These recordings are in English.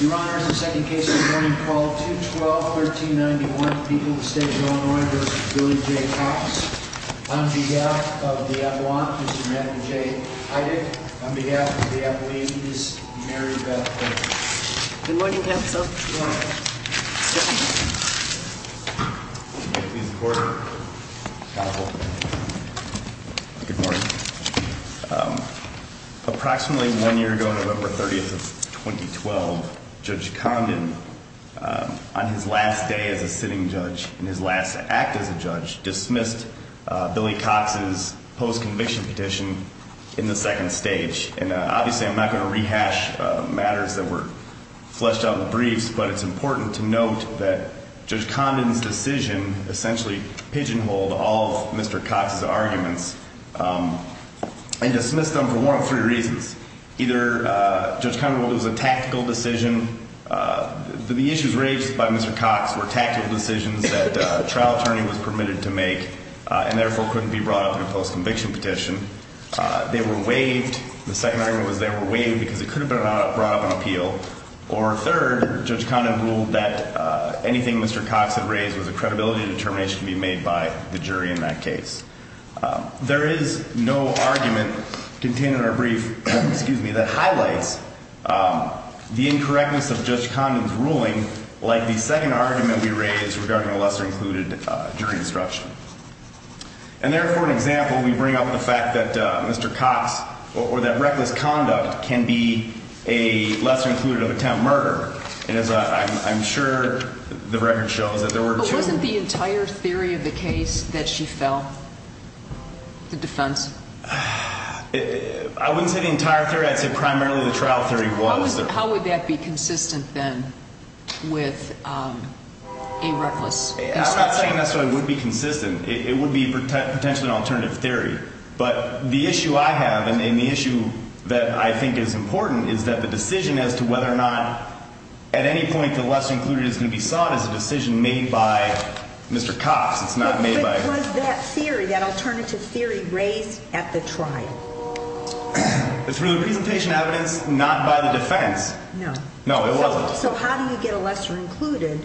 Your Honor, the second case of the morning called 2-12-1391, people of the State of Illinois v. Billy J. Cox. On behalf of the Avalon, Mr. Matthew J. Heideck, on behalf of the Avaline, Ms. Mary Beth Horton. Good morning, counsel. Good morning. Mr. Heideck. Good morning. Good morning. Approximately one year ago, November 30, 2012, Judge Condon, on his last day as a sitting judge and his last act as a judge, dismissed Billy Cox's post-conviction petition in the second stage. And obviously I'm not going to rehash matters that were fleshed out in the briefs, but it's important to note that Judge Condon's decision essentially pigeonholed all of Mr. Cox's arguments and dismissed them for one of three reasons. Either Judge Condon ruled it was a tactical decision. The issues raised by Mr. Cox were tactical decisions that a trial attorney was permitted to make and therefore couldn't be brought up in a post-conviction petition. They were waived. The second argument was they were waived because it couldn't have been brought up in an appeal. Or third, Judge Condon ruled that anything Mr. Cox had raised was a credibility determination to be made by the jury in that case. There is no argument contained in our brief that highlights the incorrectness of Judge Condon's ruling like the second argument we raised regarding a lesser-included jury destruction. And there, for an example, we bring up the fact that Mr. Cox, or that reckless conduct, can be a lesser-included attempt murder. And as I'm sure the record shows that there were two- The defense? I wouldn't say the entire theory. I'd say primarily the trial theory was. How would that be consistent then with a reckless? I'm not saying necessarily it would be consistent. It would be potentially an alternative theory. But the issue I have, and the issue that I think is important, is that the decision as to whether or not at any point the lesser-included is going to be sought is a decision made by Mr. Cox. It's not made by- But was that theory, that alternative theory, raised at the trial? Through the presentation evidence, not by the defense. No. No, it wasn't. So how do you get a lesser-included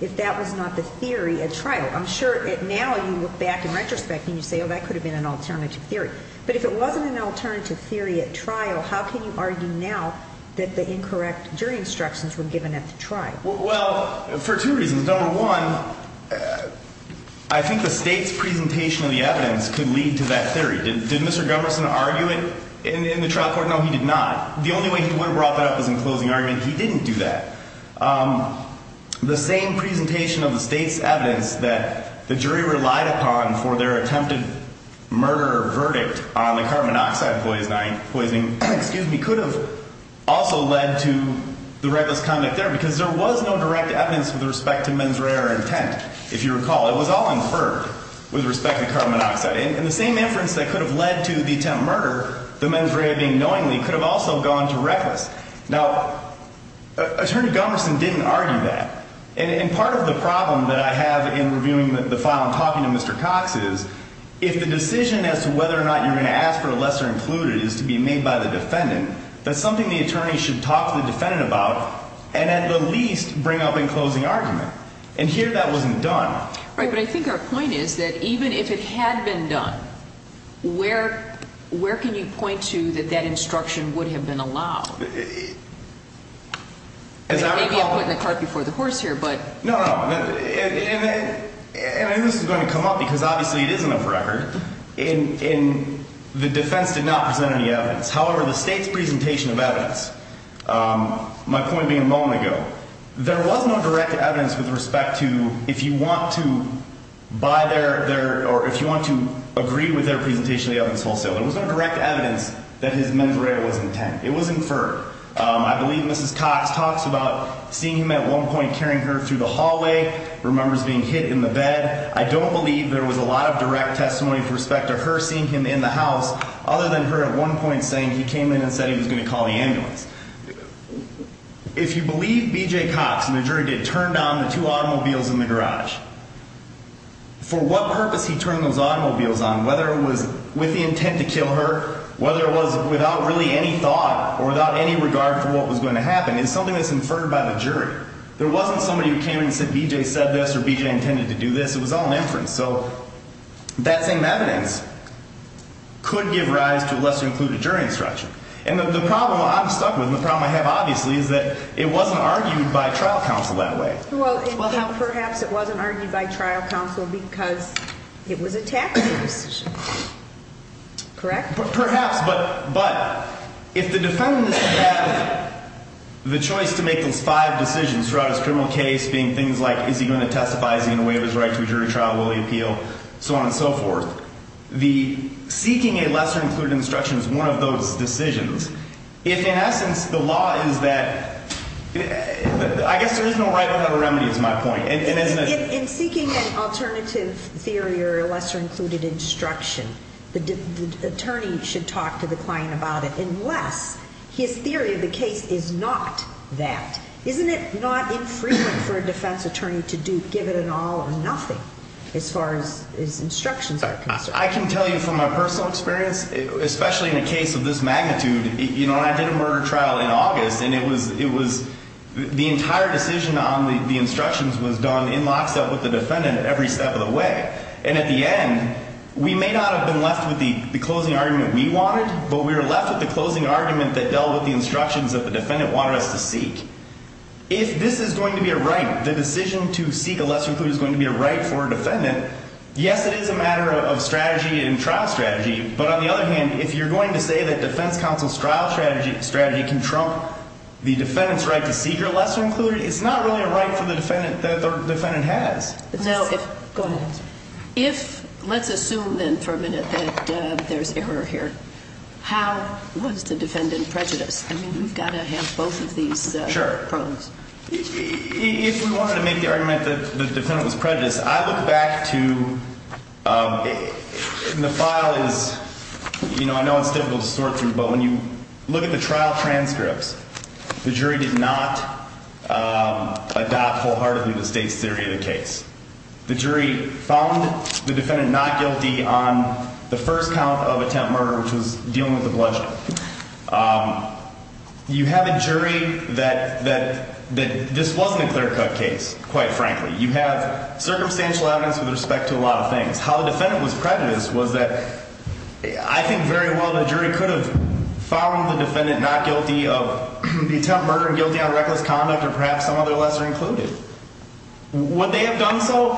if that was not the theory at trial? I'm sure now you look back in retrospect and you say, oh, that could have been an alternative theory. But if it wasn't an alternative theory at trial, how can you argue now that the incorrect jury instructions were given at the trial? Well, for two reasons. Number one, I think the state's presentation of the evidence could lead to that theory. Did Mr. Gumberson argue it in the trial court? No, he did not. The only way he would have brought that up was in closing argument. He didn't do that. The same presentation of the state's evidence that the jury relied upon for their attempted murder or verdict on the carbon monoxide poisoning could have also led to the reckless conduct there because there was no direct evidence with respect to mens rea or intent, if you recall. It was all inferred with respect to carbon monoxide. And the same inference that could have led to the attempted murder, the mens rea being knowingly, could have also gone to reckless. Now, Attorney Gumberson didn't argue that. And part of the problem that I have in reviewing the file and talking to Mr. Cox is if the decision as to whether or not you're going to ask for a lesser-included is to be made by the defendant, that's something the attorney should talk to the defendant about and, at the least, bring up in closing argument. And here that wasn't done. Right, but I think our point is that even if it had been done, where can you point to that that instruction would have been allowed? As I recall... Maybe I'm putting the cart before the horse here, but... No, no. And this is going to come up because obviously it isn't off record. However, the state's presentation of evidence, my point being a moment ago, there was no direct evidence with respect to if you want to buy their, or if you want to agree with their presentation of the evidence wholesale. There was no direct evidence that his mens rea was intent. It was inferred. I believe Mrs. Cox talks about seeing him at one point carrying her through the hallway, remembers being hit in the bed. I don't believe there was a lot of direct testimony with respect to her seeing him in the house other than her at one point saying he came in and said he was going to call the ambulance. If you believe B.J. Cox and the jury did turn down the two automobiles in the garage, for what purpose he turned those automobiles on, whether it was with the intent to kill her, whether it was without really any thought or without any regard for what was going to happen, is something that's inferred by the jury. There wasn't somebody who came in and said B.J. said this or B.J. intended to do this. It was all an inference. So that same evidence could give rise to a lesser-included jury instruction. And the problem I'm stuck with and the problem I have obviously is that it wasn't argued by trial counsel that way. Well, perhaps it wasn't argued by trial counsel because it was a tactical decision. Correct? Perhaps. But if the defendants had the choice to make those five decisions throughout his criminal case, being things like is he going to testify, is he going to waive his right to a jury trial, will he appeal, so on and so forth, the seeking a lesser-included instruction is one of those decisions. If in essence the law is that I guess there is no right or wrong remedy is my point. In seeking an alternative theory or a lesser-included instruction, the attorney should talk to the client about it unless his theory of the case is not that. Isn't it not infrequent for a defense attorney to give it an all or nothing as far as instructions are concerned? I can tell you from my personal experience, especially in a case of this magnitude, you know, I did a murder trial in August, and it was the entire decision on the instructions was done in lockstep with the defendant every step of the way. And at the end, we may not have been left with the closing argument we wanted, but we were left with the closing argument that dealt with the instructions that the defendant wanted us to seek. If this is going to be a right, the decision to seek a lesser-included is going to be a right for a defendant, yes, it is a matter of strategy and trial strategy, but on the other hand, if you're going to say that defense counsel's trial strategy can trump the defendant's right to seek a lesser-included, it's not really a right for the defendant that the defendant has. Go ahead. If, let's assume then for a minute that there's error here, how was the defendant prejudiced? I mean, we've got to have both of these problems. Sure. If we wanted to make the argument that the defendant was prejudiced, I look back to the file is, you know, I know it's difficult to sort through, but when you look at the trial transcripts, the jury did not adopt wholeheartedly the state's theory of the case. The jury found the defendant not guilty on the first count of attempt murder, which was dealing with a bludgeon. You have a jury that this wasn't a clear-cut case, quite frankly. You have circumstantial evidence with respect to a lot of things. How the defendant was prejudiced was that I think very well the jury could have found the defendant not guilty of the attempt murder, guilty on reckless conduct, or perhaps some other lesser-included. Would they have done so?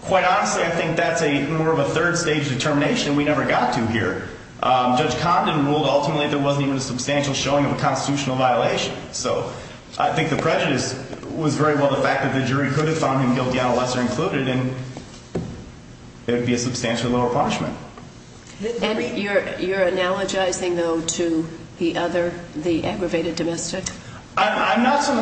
Quite honestly, I think that's more of a third-stage determination. We never got to here. Judge Condon ruled ultimately there wasn't even a substantial showing of a constitutional violation. So I think the prejudice was very well the fact that the jury could have found him guilty on a lesser-included, and there would be a substantial lower punishment. And you're analogizing, though, to the other, the aggravated domestic? I'm not so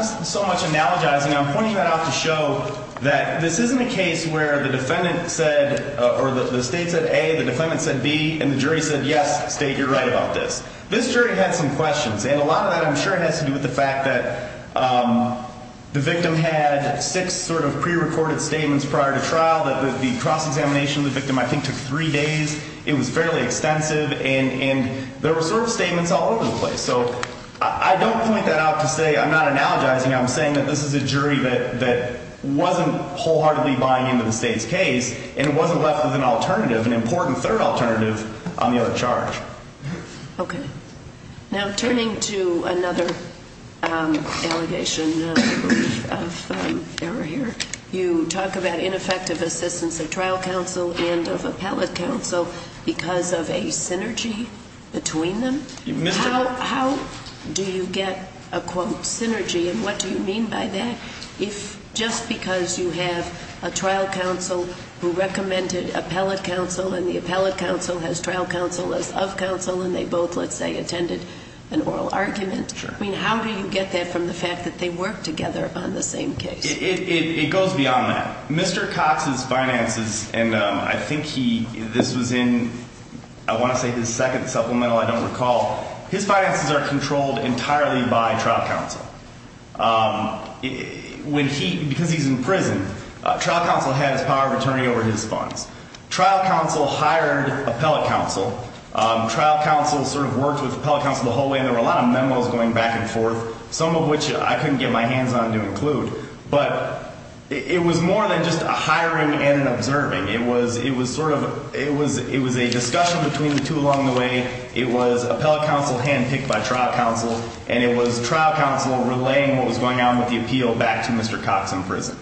much analogizing. I'm pointing that out to show that this isn't a case where the defendant said, or the state said A, the defendant said B, and the jury said, yes, state, you're right about this. This jury had some questions, and a lot of that I'm sure has to do with the fact that the victim had six sort of pre-recorded statements prior to trial, that the cross-examination of the victim I think took three days. It was fairly extensive, and there were sort of statements all over the place. So I don't point that out to say I'm not analogizing. I'm saying that this is a jury that wasn't wholeheartedly buying into the state's case, and it wasn't left with an alternative, an important third alternative on the other charge. Okay. Now, turning to another allegation of error here, you talk about ineffective assistance of trial counsel and of appellate counsel because of a synergy between them. How do you get a, quote, synergy, and what do you mean by that? If just because you have a trial counsel who recommended appellate counsel and the appellate counsel has trial counsel as of counsel and they both, let's say, attended an oral argument, I mean, how do you get that from the fact that they work together on the same case? It goes beyond that. Mr. Cox's finances, and I think he, this was in, I want to say his second supplemental, I don't recall. His finances are controlled entirely by trial counsel. When he, because he's in prison, trial counsel has power of attorney over his funds. Trial counsel hired appellate counsel. Trial counsel sort of worked with appellate counsel the whole way, and there were a lot of memos going back and forth, some of which I couldn't get my hands on to include. But it was more than just a hiring and an observing. It was sort of, it was a discussion between the two along the way. It was appellate counsel handpicked by trial counsel, and it was trial counsel relaying what was going on with the appeal back to Mr. Cox in prison.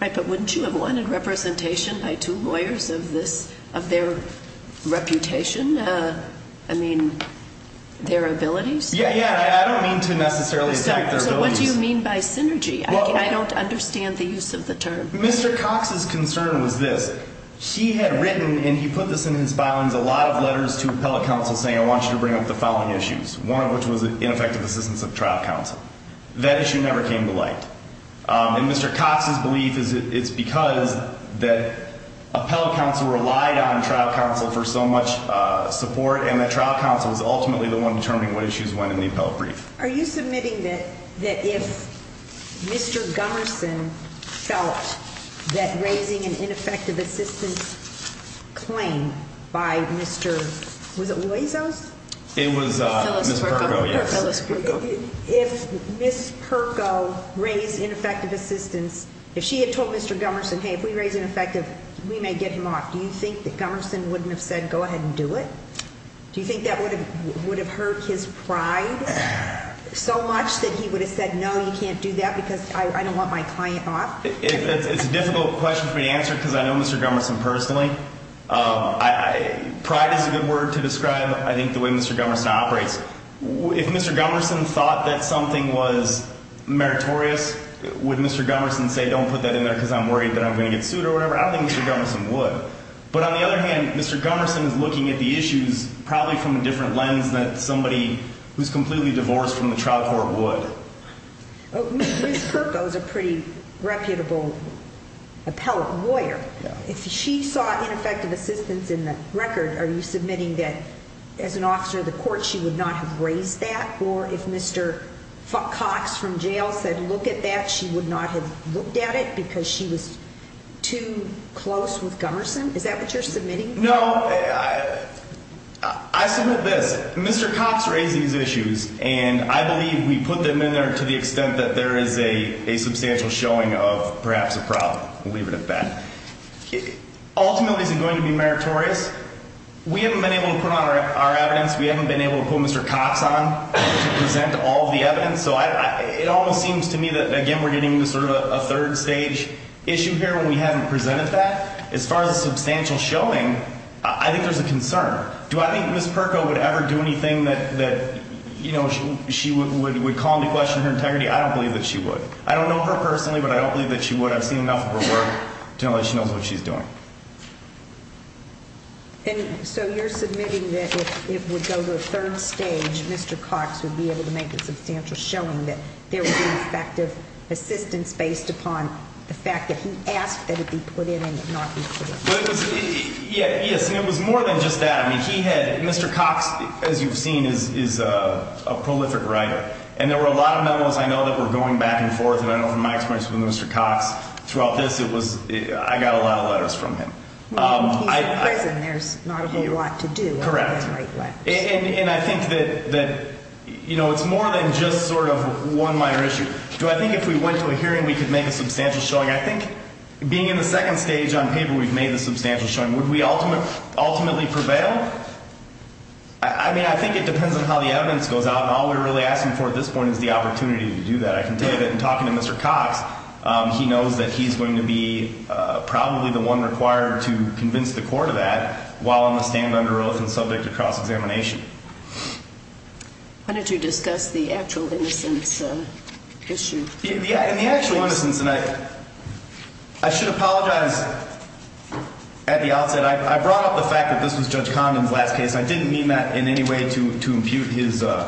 Right, but wouldn't you have wanted representation by two lawyers of this, of their reputation? I mean, their abilities? Yeah, yeah, I don't mean to necessarily attack their abilities. So what do you mean by synergy? I don't understand the use of the term. Mr. Cox's concern was this. He had written, and he put this in his filings, a lot of letters to appellate counsel saying, I want you to bring up the following issues, one of which was ineffective assistance of trial counsel. That issue never came to light. And Mr. Cox's belief is it's because that appellate counsel relied on trial counsel for so much support, and that trial counsel was ultimately the one determining what issues went in the appellate brief. Are you submitting that if Mr. Gumerson felt that raising an ineffective assistance claim by Mr. Was it Loizos? It was Ms. Perko, yes. Or Phyllis Perko. If Ms. Perko raised ineffective assistance, if she had told Mr. Gumerson, hey, if we raise ineffective, we may get him off, do you think that Gumerson wouldn't have said, go ahead and do it? Do you think that would have hurt his pride so much that he would have said, no, you can't do that because I don't want my client off? It's a difficult question for me to answer because I know Mr. Gumerson personally. Pride is a good word to describe, I think, the way Mr. Gumerson operates. If Mr. Gumerson thought that something was meritorious, would Mr. Gumerson say, don't put that in there because I'm worried that I'm going to get sued or whatever? I don't think Mr. Gumerson would. But on the other hand, Mr. Gumerson is looking at the issues probably from a different lens than somebody who's completely divorced from the trial court would. Ms. Perko is a pretty reputable appellate lawyer. If she saw ineffective assistance in the record, are you submitting that as an officer of the court, she would not have raised that? Or if Mr. Cox from jail said, look at that, she would not have looked at it because she was too close with Gumerson? Is that what you're submitting? No, I submit this. Mr. Cox raised these issues, and I believe we put them in there to the extent that there is a substantial showing of perhaps a problem. We'll leave it at that. Ultimately, is it going to be meritorious? We haven't been able to put on our evidence. We haven't been able to put Mr. Cox on to present all of the evidence. So it almost seems to me that, again, we're getting into sort of a third stage issue here where we haven't presented that. As far as a substantial showing, I think there's a concern. Do I think Ms. Perko would ever do anything that she would call into question her integrity? I don't believe that she would. I don't know her personally, but I don't believe that she would. I've seen enough of her work to know that she knows what she's doing. And so you're submitting that if we go to a third stage, Mr. Cox would be able to make a substantial showing, that there would be effective assistance based upon the fact that he asked that it be put in and not be put in? Yes, and it was more than just that. I mean, he had Mr. Cox, as you've seen, is a prolific writer. And there were a lot of memos, I know, that were going back and forth. And I know from my experience with Mr. Cox throughout this, I got a lot of letters from him. He's in prison. There's not a whole lot to do other than write letters. Correct. And I think that it's more than just sort of one minor issue. Do I think if we went to a hearing, we could make a substantial showing? I think being in the second stage on paper, we've made the substantial showing. Would we ultimately prevail? I mean, I think it depends on how the evidence goes out. And all we're really asking for at this point is the opportunity to do that. I can tell you that in talking to Mr. Cox, he knows that he's going to be probably the one required to convince the court of that while on the stand under oath and subject to cross-examination. Why don't you discuss the actual innocence issue? Yeah, and the actual innocence, and I should apologize at the outset. I brought up the fact that this was Judge Condon's last case. I didn't mean that in any way to impute the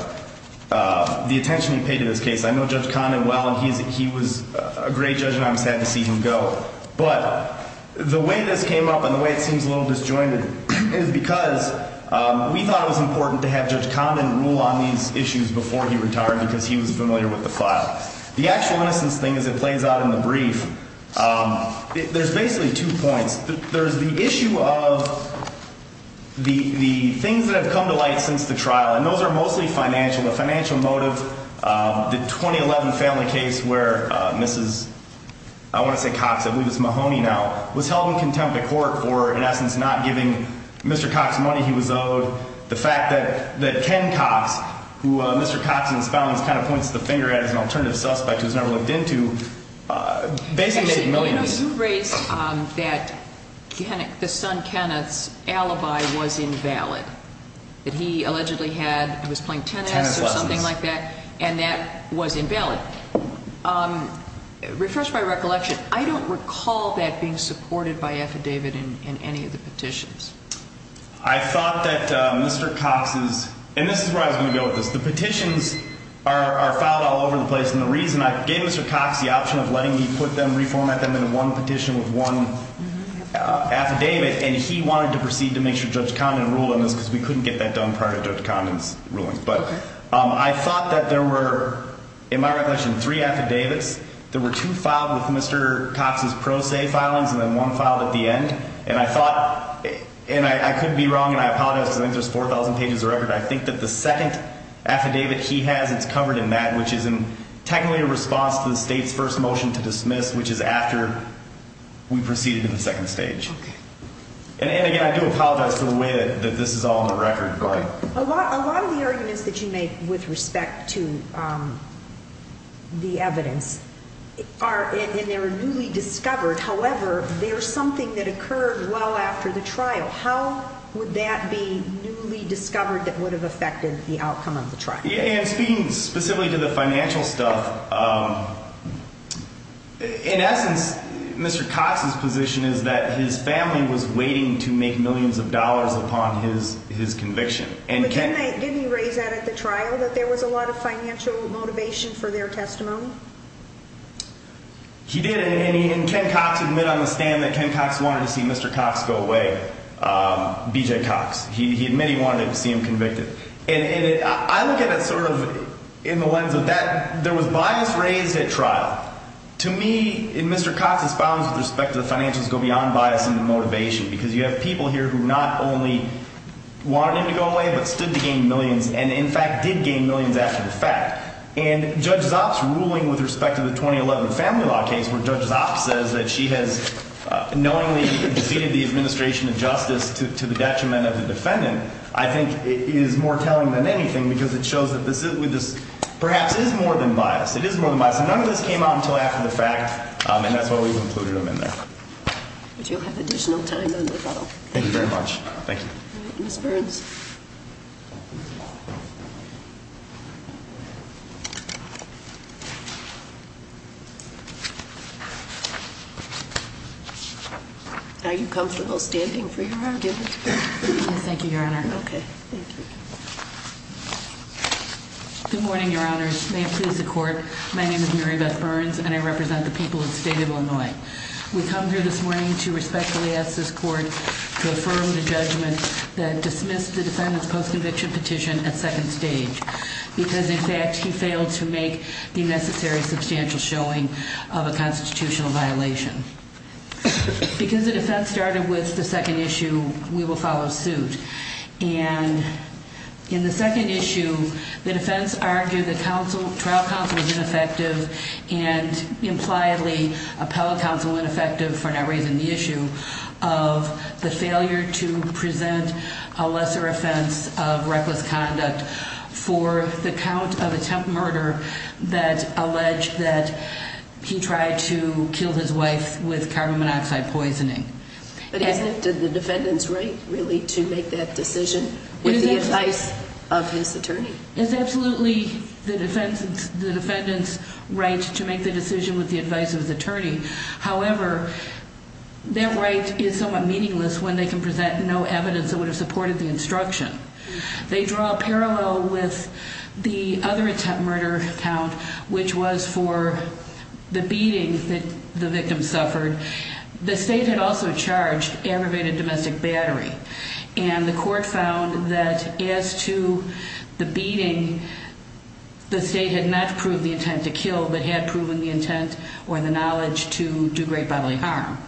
attention he paid to this case. I know Judge Condon well, and he was a great judge, and I'm sad to see him go. But the way this came up and the way it seems a little disjointed is because we thought it was important to have Judge Condon rule on these issues before he retired because he was familiar with the file. The actual innocence thing as it plays out in the brief, there's basically two points. There's the issue of the things that have come to light since the trial, and those are mostly financial. The financial motive, the 2011 family case where Mrs., I want to say Cox, I believe it's Mahoney now, was held in contempt of court for, in essence, not giving Mr. Cox the money he was owed. The fact that Ken Cox, who Mr. Cox in his filings kind of points the finger at as an alternative suspect who's never looked into, basically made millions. Actually, you know, you raised that the son Kenneth's alibi was invalid, that he allegedly had, he was playing tennis or something like that, and that was invalid. Refresh my recollection, I don't recall that being supported by affidavit in any of the petitions. I thought that Mr. Cox's, and this is where I was going to go with this, the petitions are filed all over the place, and the reason I gave Mr. Cox the option of letting me put them, reformat them into one petition with one affidavit, and he wanted to proceed to make sure Judge Condon ruled on this because we couldn't get that done prior to Judge Condon's ruling. But I thought that there were, in my recollection, three affidavits. There were two filed with Mr. Cox's pro se filings and then one filed at the end. And I thought, and I couldn't be wrong, and I apologize because I think there's 4,000 pages of record. I think that the second affidavit he has, it's covered in that, which is technically a response to the state's first motion to dismiss, which is after we proceeded to the second stage. Okay. And again, I do apologize for the way that this is all on the record. Okay. A lot of the arguments that you make with respect to the evidence are, and they were newly discovered. However, there's something that occurred well after the trial. How would that be newly discovered that would have affected the outcome of the trial? Speaking specifically to the financial stuff, in essence, Mr. Cox's position is that his family was waiting to make millions of dollars upon his conviction. Didn't he raise that at the trial, that there was a lot of financial motivation for their testimony? He did, and Ken Cox admitted on the stand that Ken Cox wanted to see Mr. Cox go away, BJ Cox. He admitted he wanted to see him convicted. And I look at it sort of in the lens of that there was bias raised at trial. To me, in Mr. Cox's filings with respect to the financials go beyond bias into motivation because you have people here who not only wanted him to go away but stood to gain millions and, in fact, did gain millions after the fact. And Judge Zopp's ruling with respect to the 2011 family law case where Judge Zopp says that she has knowingly defeated the administration of justice to the detriment of the defendant, I think, is more telling than anything because it shows that this perhaps is more than bias. It is more than bias. And none of this came out until after the fact, and that's why we've included him in there. But you'll have additional time to look at them. Thank you very much. Thank you. Ms. Burns. Are you comfortable standing for your argument? Yes, thank you, Your Honor. Okay. Thank you. Good morning, Your Honors. May it please the court. My name is Mary Beth Burns, and I represent the people of the state of Illinois. We come here this morning to respectfully ask this court to affirm the judgment that dismissed the defendant's post-conviction petition at second stage because, in fact, he failed to do so. He failed to make the necessary substantial showing of a constitutional violation. Because the defense started with the second issue, we will follow suit. And in the second issue, the defense argued that trial counsel was ineffective and impliedly appellate counsel was ineffective for not raising the issue of the failure to present a lesser offense of reckless conduct for the count of attempt murder that alleged that he tried to kill his wife with carbon monoxide poisoning. But isn't it the defendant's right, really, to make that decision with the advice of his attorney? It's absolutely the defendant's right to make the decision with the advice of his attorney. However, their right is somewhat meaningless when they can present no evidence that would have supported the instruction. They draw a parallel with the other attempt murder count, which was for the beating that the victim suffered. The state had also charged aggravated domestic battery. And the court found that as to the beating, the state had not proved the intent to kill but had proven the intent or the knowledge to do great bodily harm.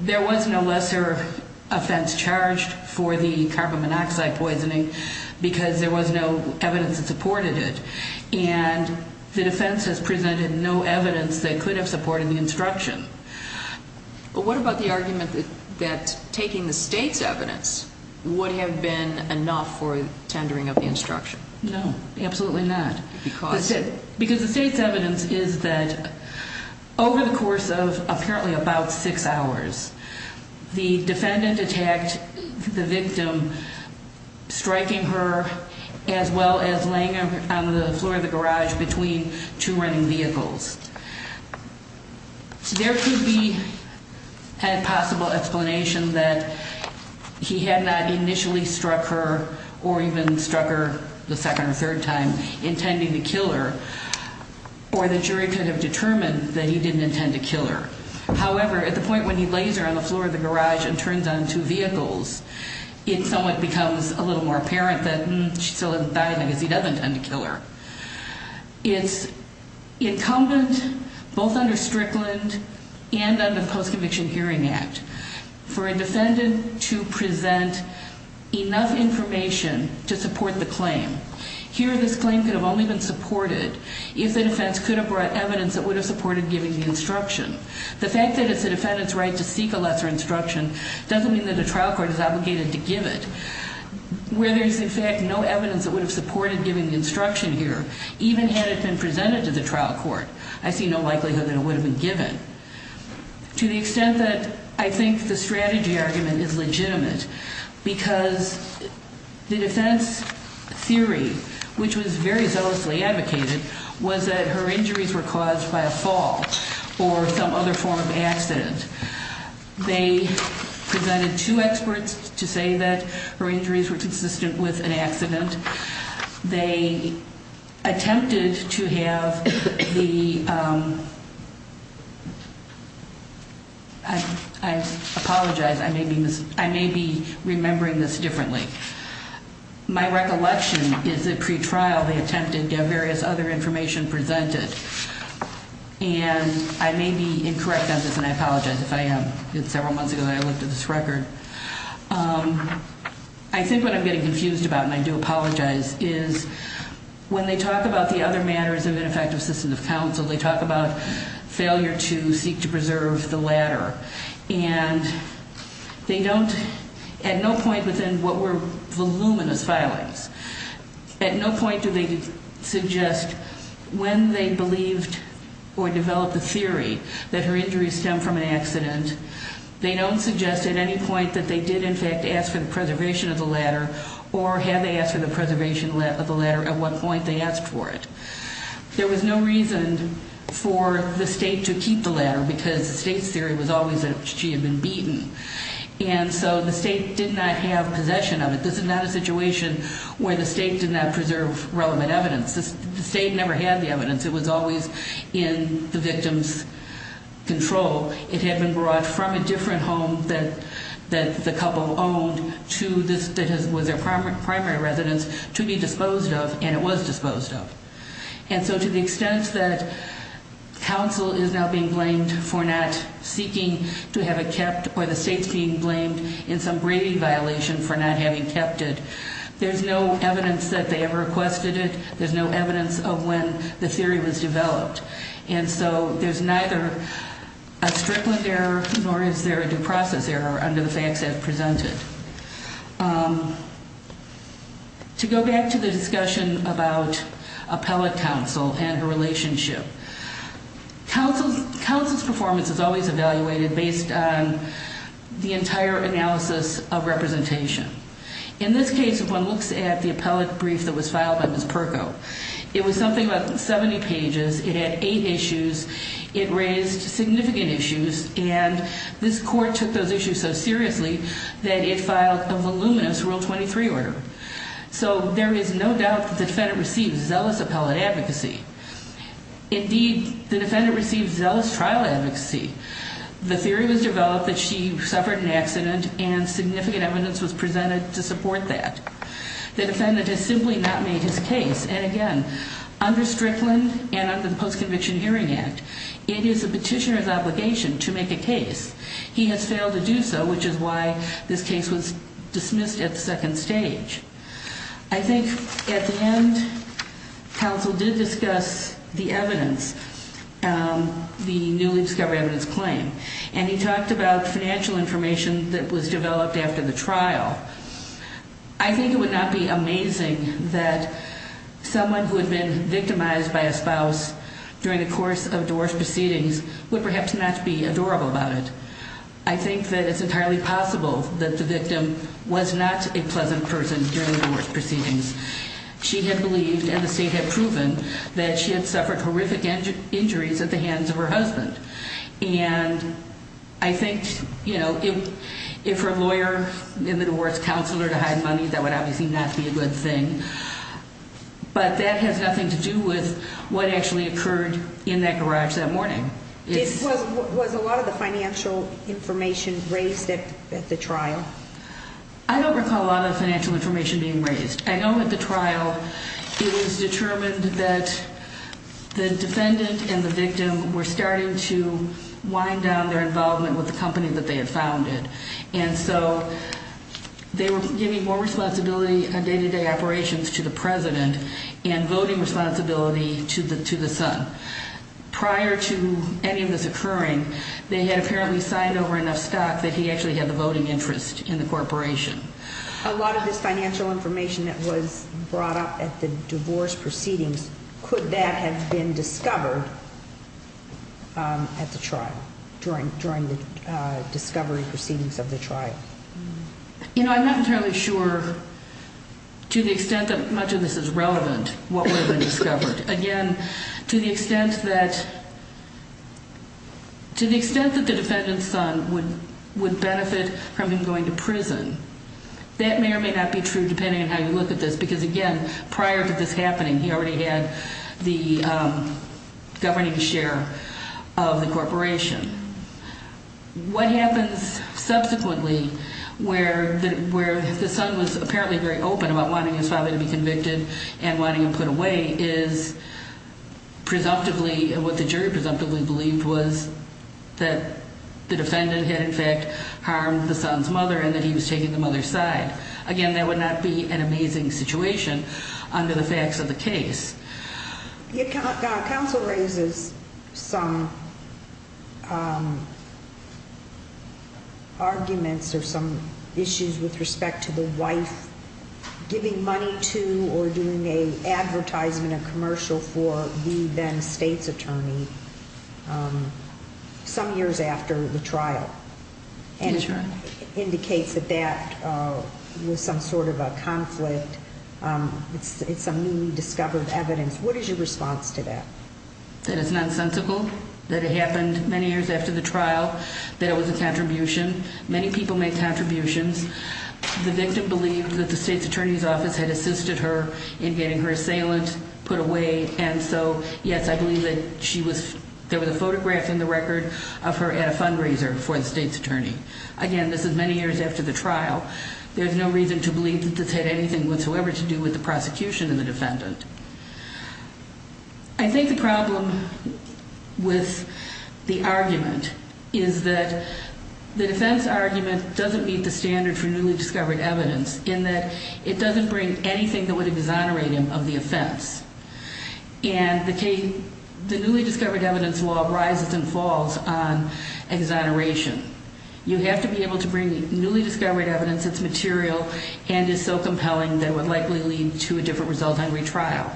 There was no lesser offense charged for the carbon monoxide poisoning because there was no evidence that supported it. And the defense has presented no evidence that could have supported the instruction. But what about the argument that taking the state's evidence would have been enough for tendering of the instruction? No, absolutely not. Because the state's evidence is that over the course of apparently about six hours, the defendant attacked the victim, striking her as well as laying her on the floor of the garage between two running vehicles. So there could be a possible explanation that he had not initially struck her or even struck her the second or third time intending to kill her. Or the jury could have determined that he didn't intend to kill her. However, at the point when he lays her on the floor of the garage and turns on two vehicles, it somewhat becomes a little more apparent that she still hasn't died because he doesn't intend to kill her. It's incumbent, both under Strickland and under the Post-Conviction Hearing Act, for a defendant to present enough information to support the claim. Here, this claim could have only been supported if the defense could have brought evidence that would have supported giving the instruction. The fact that it's the defendant's right to seek a lesser instruction doesn't mean that a trial court is obligated to give it. Where there's, in fact, no evidence that would have supported giving the instruction here, even had it been presented to the trial court, I see no likelihood that it would have been given to the extent that I think the strategy argument is legitimate because the defense theory, which was very zealously advocated, was that her injuries were caused by a fall or some other form of accident. They presented two experts to say that her injuries were consistent with an accident. They attempted to have the... I apologize. I may be remembering this differently. My recollection is that pre-trial they attempted to have various other information presented, and I may be incorrect on this, and I apologize if I am. It's several months ago that I looked at this record. I think what I'm getting confused about, and I do apologize, is when they talk about the other matters of ineffective system of counsel, they talk about failure to seek to preserve the latter, and they don't, at no point within what were voluminous filings, at no point do they suggest when they believed or developed the theory that her injuries stem from an accident, they don't suggest at any point that they did, in fact, ask for the preservation of the latter or had they asked for the preservation of the latter at what point they asked for it. There was no reason for the state to keep the latter because the state's theory was always that she had been beaten, and so the state did not have possession of it. This is not a situation where the state did not preserve relevant evidence. The state never had the evidence. It was always in the victim's control. It had been brought from a different home that the couple owned that was their primary residence to be disposed of, and it was disposed of, and so to the extent that counsel is now being blamed for not seeking to have it kept or the state's being blamed in some brevity violation for not having kept it, there's no evidence that they ever requested it, there's no evidence of when the theory was developed, and so there's neither a Strickland error nor is there a due process error under the facts I've presented. To go back to the discussion about appellate counsel and her relationship, counsel's performance is always evaluated based on the entire analysis of representation. In this case, if one looks at the appellate brief that was filed by Ms. Perko, it was something like 70 pages, it had eight issues, it raised significant issues, and this court took those issues so seriously that it filed a voluminous Rule 23 order. So there is no doubt that the defendant received zealous appellate advocacy. Indeed, the defendant received zealous trial advocacy. The theory was developed that she suffered an accident and significant evidence was presented to support that. The defendant has simply not made his case, and again, under Strickland and under the Post-Conviction Hearing Act, it is the petitioner's obligation to make a case. He has failed to do so, which is why this case was dismissed at the second stage. I think at the end, counsel did discuss the evidence, the newly discovered evidence claim, and he talked about financial information that was developed after the trial. I think it would not be amazing that someone who had been victimized by a spouse during the course of divorce proceedings would perhaps not be adorable about it. I think that it's entirely possible that the victim was not a pleasant person during the divorce proceedings. She had believed and the state had proven that she had suffered horrific injuries at the hands of her husband. And I think, you know, if her lawyer in the divorce counseled her to hide money, that would obviously not be a good thing. But that has nothing to do with what actually occurred in that garage that morning. Was a lot of the financial information raised at the trial? I don't recall a lot of the financial information being raised. I know at the trial it was determined that the defendant and the victim were starting to wind down their involvement with the company that they had founded. And so they were giving more responsibility on day-to-day operations to the president and voting responsibility to the son. Prior to any of this occurring, they had apparently signed over enough stock that he actually had the voting interest in the corporation. A lot of this financial information that was brought up at the divorce proceedings, could that have been discovered at the trial during the discovery proceedings of the trial? You know, I'm not entirely sure to the extent that much of this is relevant, what would have been discovered. Again, to the extent that the defendant's son would benefit from him going to prison, that may or may not be true depending on how you look at this because, again, prior to this happening, he already had the governing share of the corporation. What happens subsequently where the son was apparently very open about wanting his father to be convicted and wanting him put away is presumptively what the jury presumptively believed was that the defendant had in fact harmed the son's mother and that he was taking the mother's side. Again, that would not be an amazing situation under the facts of the case. Counsel raises some arguments or some issues with respect to the wife giving money to or doing an advertisement or commercial for the then state's attorney some years after the trial. That's right. There was some sort of a conflict. It's some newly discovered evidence. What is your response to that? That it's nonsensical, that it happened many years after the trial, that it was a contribution. Many people make contributions. The victim believed that the state's attorney's office had assisted her in getting her assailant put away, and so, yes, I believe that there was a photograph in the record of her at a fundraiser for the state's attorney. Again, this is many years after the trial. There's no reason to believe that this had anything whatsoever to do with the prosecution of the defendant. I think the problem with the argument is that the defense argument doesn't meet the standard for newly discovered evidence in that it doesn't bring anything that would exonerate him of the offense. And the newly discovered evidence law rises and falls on exoneration. You have to be able to bring newly discovered evidence that's material and is so compelling that it would likely lead to a different result on retrial.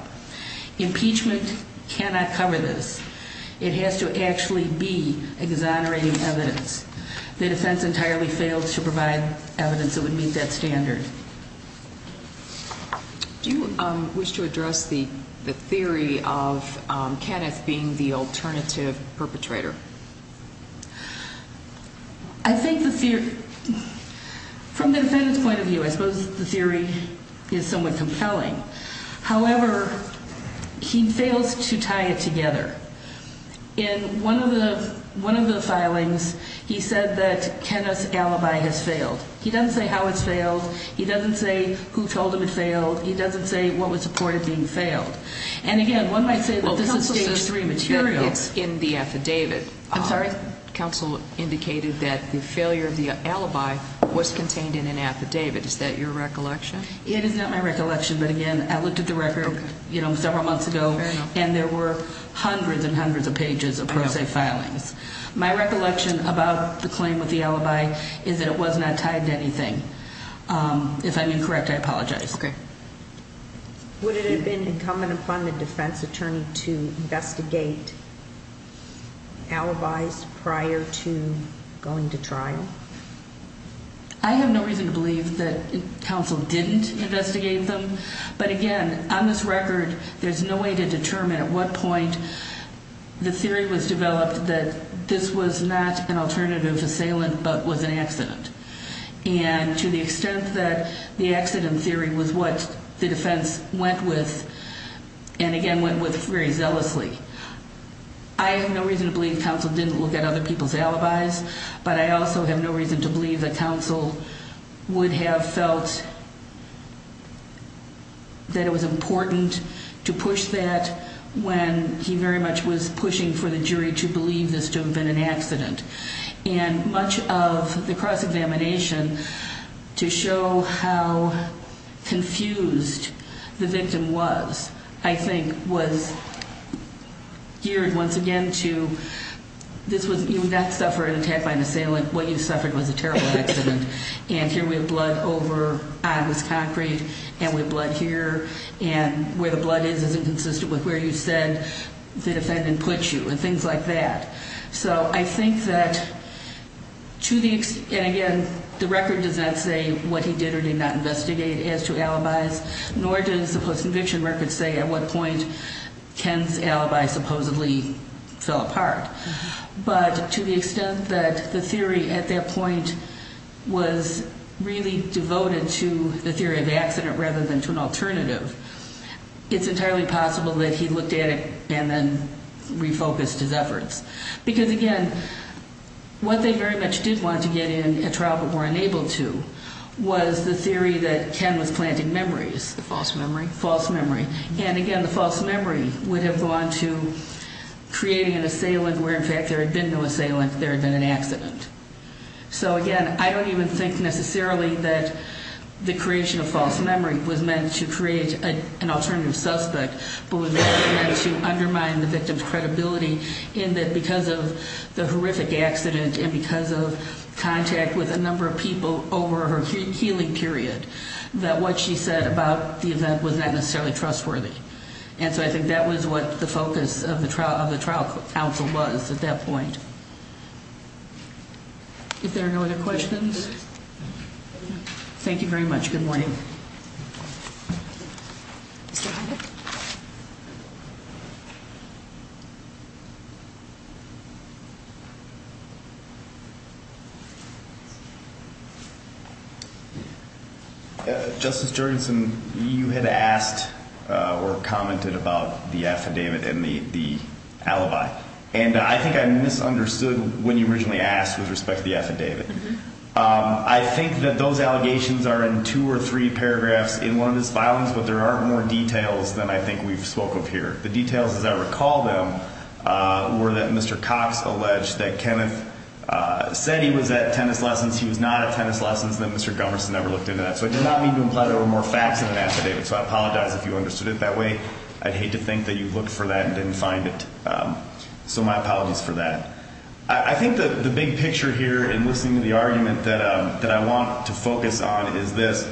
Impeachment cannot cover this. It has to actually be exonerating evidence. If the defense entirely failed to provide evidence, it would meet that standard. Do you wish to address the theory of Kenneth being the alternative perpetrator? I think the theory, from the defendant's point of view, I suppose the theory is somewhat compelling. However, he fails to tie it together. In one of the filings, he said that Kenneth's alibi has failed. He doesn't say how it's failed. He doesn't say who told him it failed. He doesn't say what was supported being failed. And, again, one might say that this is Stage 3 material. Counsel said that it's in the affidavit. I'm sorry? Counsel indicated that the failure of the alibi was contained in an affidavit. Is that your recollection? It is not my recollection, but, again, I looked at the record several months ago, and there were hundreds and hundreds of pages of pro se filings. My recollection about the claim with the alibi is that it was not tied to anything. If I'm incorrect, I apologize. Okay. Would it have been incumbent upon the defense attorney to investigate alibis prior to going to trial? I have no reason to believe that counsel didn't investigate them. But, again, on this record, there's no way to determine at what point the theory was developed that this was not an alternative assailant but was an accident. And to the extent that the accident theory was what the defense went with and, again, went with very zealously, I have no reason to believe counsel didn't look at other people's alibis, but I also have no reason to believe that counsel would have felt that it was important to push that when he very much was pushing for the jury to believe this to have been an accident. And much of the cross-examination to show how confused the victim was, I think, was geared once again to this was not suffering an attack by an assailant. What you suffered was a terrible accident. And here we have blood over on this concrete, and we have blood here, and where the blood is is inconsistent with where you said the defendant put you and things like that. So I think that, again, the record does not say what he did or did not investigate as to alibis, nor does the post-conviction record say at what point Ken's alibi supposedly fell apart. But to the extent that the theory at that point was really devoted to the theory of accident rather than to an alternative, it's entirely possible that he looked at it and then refocused his efforts. Because, again, what they very much did want to get in a trial but were unable to was the theory that Ken was planting memories. The false memory. False memory. And, again, the false memory would have gone to creating an assailant where, in fact, there had been no assailant. There had been an accident. So, again, I don't even think necessarily that the creation of false memory was meant to create an alternative suspect but was meant to undermine the victim's credibility in that because of the horrific accident and because of contact with a number of people over her healing period, that what she said about the event was not necessarily trustworthy. And so I think that was what the focus of the trial counsel was at that point. If there are no other questions. Thank you very much. Good morning. Mr. Hunter. Justice Jorgensen, you had asked or commented about the affidavit and the alibi, and I think I misunderstood when you originally asked with respect to the affidavit. I think that those allegations are in two or three paragraphs in one of his filings, but there are more details than I think we've spoke of here. The details, as I recall them, were that Mr. Cox alleged that Kenneth said he was at tennis lessons, he was not at tennis lessons, and that Mr. Gummerson never looked into that. So I did not mean to imply there were more facts in the affidavit, so I apologize if you understood it that way. I'd hate to think that you looked for that and didn't find it. So my apologies for that. I think the big picture here in listening to the argument that I want to focus on is this.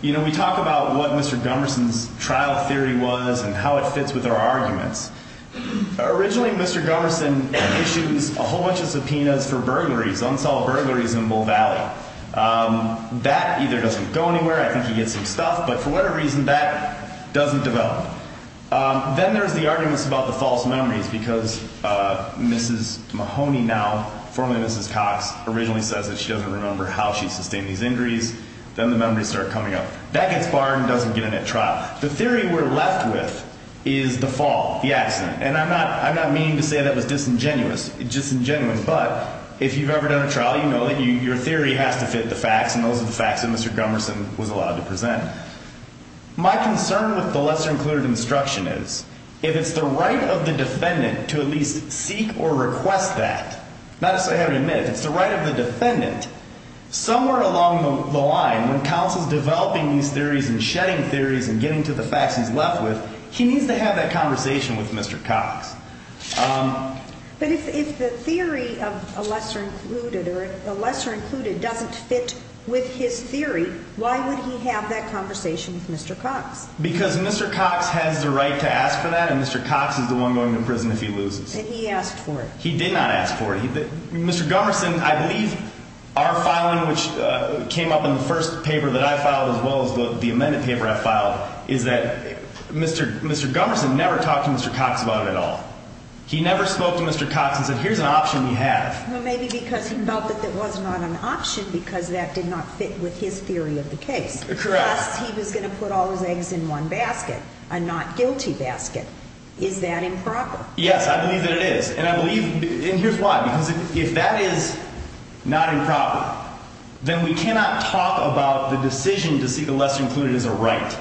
You know, we talk about what Mr. Gummerson's trial theory was and how it fits with our arguments. Originally, Mr. Gummerson issues a whole bunch of subpoenas for burglaries, unsolved burglaries in Bull Valley. That either doesn't go anywhere, I think he gets some stuff, but for whatever reason, that doesn't develop. Then there's the arguments about the false memories because Mrs. Mahoney now, formerly Mrs. Cox, originally says that she doesn't remember how she sustained these injuries. Then the memories start coming up. That gets barred and doesn't get in at trial. The theory we're left with is the fall, the accident, and I'm not meaning to say that was disingenuous, but if you've ever done a trial, you know that your theory has to fit the facts, and those are the facts that Mr. Gummerson was allowed to present. My concern with the lesser-included instruction is if it's the right of the defendant to at least seek or request that, not that I have to admit it, it's the right of the defendant, somewhere along the line, when counsel's developing these theories and shedding theories and getting to the facts he's left with, he needs to have that conversation with Mr. Cox. But if the theory of a lesser-included or a lesser-included doesn't fit with his theory, why would he have that conversation with Mr. Cox? Because Mr. Cox has the right to ask for that, and Mr. Cox is the one going to prison if he loses. And he asked for it. He did not ask for it. Mr. Gummerson, I believe, our filing, which came up in the first paper that I filed as well as the amended paper I filed, is that Mr. Gummerson never talked to Mr. Cox about it at all. He never spoke to Mr. Cox and said, here's an option you have. Well, maybe because he felt that that was not an option because that did not fit with his theory of the case. Correct. Plus, he was going to put all his eggs in one basket, a not-guilty basket. Is that improper? Yes, I believe that it is. And I believe, and here's why, because if that is not improper, then we cannot talk about the decision to see the lesser included as a right.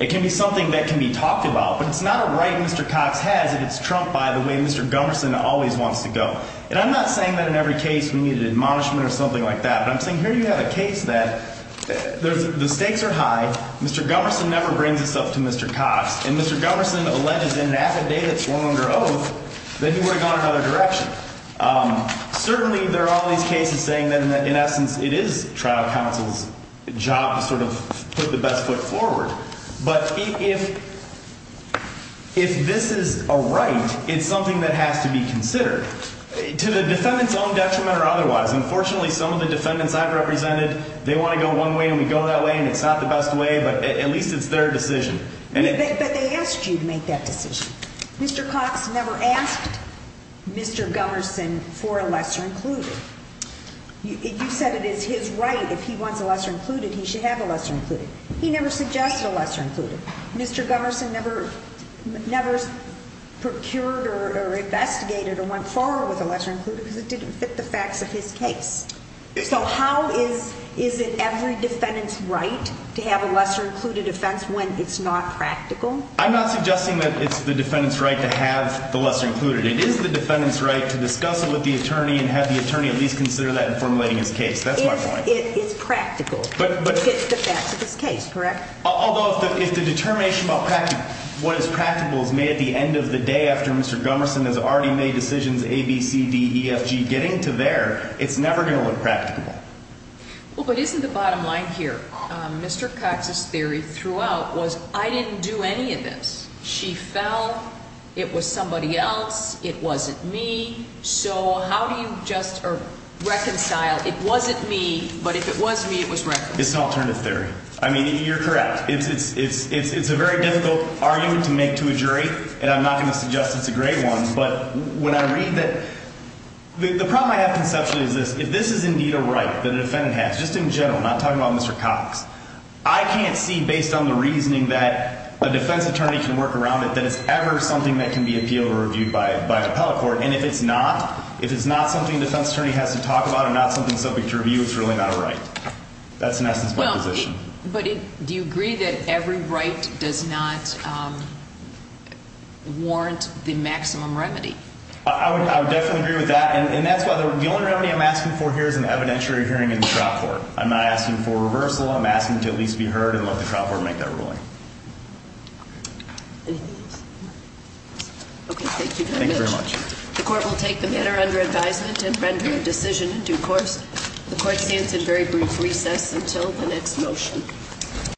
It can be something that can be talked about. But it's not a right Mr. Cox has if it's trumped by the way Mr. Gummerson always wants to go. And I'm not saying that in every case we needed admonishment or something like that, but I'm saying here you have a case that the stakes are high, Mr. Gummerson never brings this up to Mr. Cox, and Mr. Gummerson alleges in an affidavit sworn under oath that he would have gone another direction. Certainly there are all these cases saying that in essence it is trial counsel's job to sort of put the best foot forward. But if this is a right, it's something that has to be considered to the defendant's own detriment or otherwise. Unfortunately, some of the defendants I've represented, they want to go one way and we go that way, and it's not the best way, but at least it's their decision. But they asked you to make that decision. Mr. Cox never asked Mr. Gummerson for a lesser-included. You said it is his right if he wants a lesser-included, he should have a lesser-included. He never suggested a lesser-included. Mr. Gummerson never procured or investigated or went forward with a lesser-included because it didn't fit the facts of his case. So how is it every defendant's right to have a lesser-included offense when it's not practical? I'm not suggesting that it's the defendant's right to have the lesser-included. It is the defendant's right to discuss it with the attorney and have the attorney at least consider that in formulating his case. That's my point. It's practical. It fits the facts of his case, correct? Although if the determination about what is practical is made at the end of the day after Mr. Gummerson has already made decisions, A, B, C, D, E, F, G, getting to there, it's never going to look practical. Well, but isn't the bottom line here? Mr. Cox's theory throughout was I didn't do any of this. She fell. It was somebody else. It wasn't me. So how do you just reconcile it wasn't me, but if it was me, it was reconciled? It's an alternative theory. I mean, you're correct. It's a very difficult argument to make to a jury, and I'm not going to suggest it's a great one. But when I read that the problem I have conceptually is this. If this is indeed a right that a defendant has, just in general, not talking about Mr. Cox, I can't see, based on the reasoning that a defense attorney can work around it, that it's ever something that can be appealed or reviewed by an appellate court. And if it's not, if it's not something a defense attorney has to talk about or not something subject to review, it's really not a right. That's, in essence, my position. But do you agree that every right does not warrant the maximum remedy? I would definitely agree with that. And that's why the only remedy I'm asking for here is an evidentiary hearing in the trial court. I'm not asking for a reversal. I'm asking to at least be heard and let the trial court make that ruling. Okay, thank you very much. Thank you very much. The court will take the matter under advisement and render a decision in due course. The court stands in very brief recess until the next motion.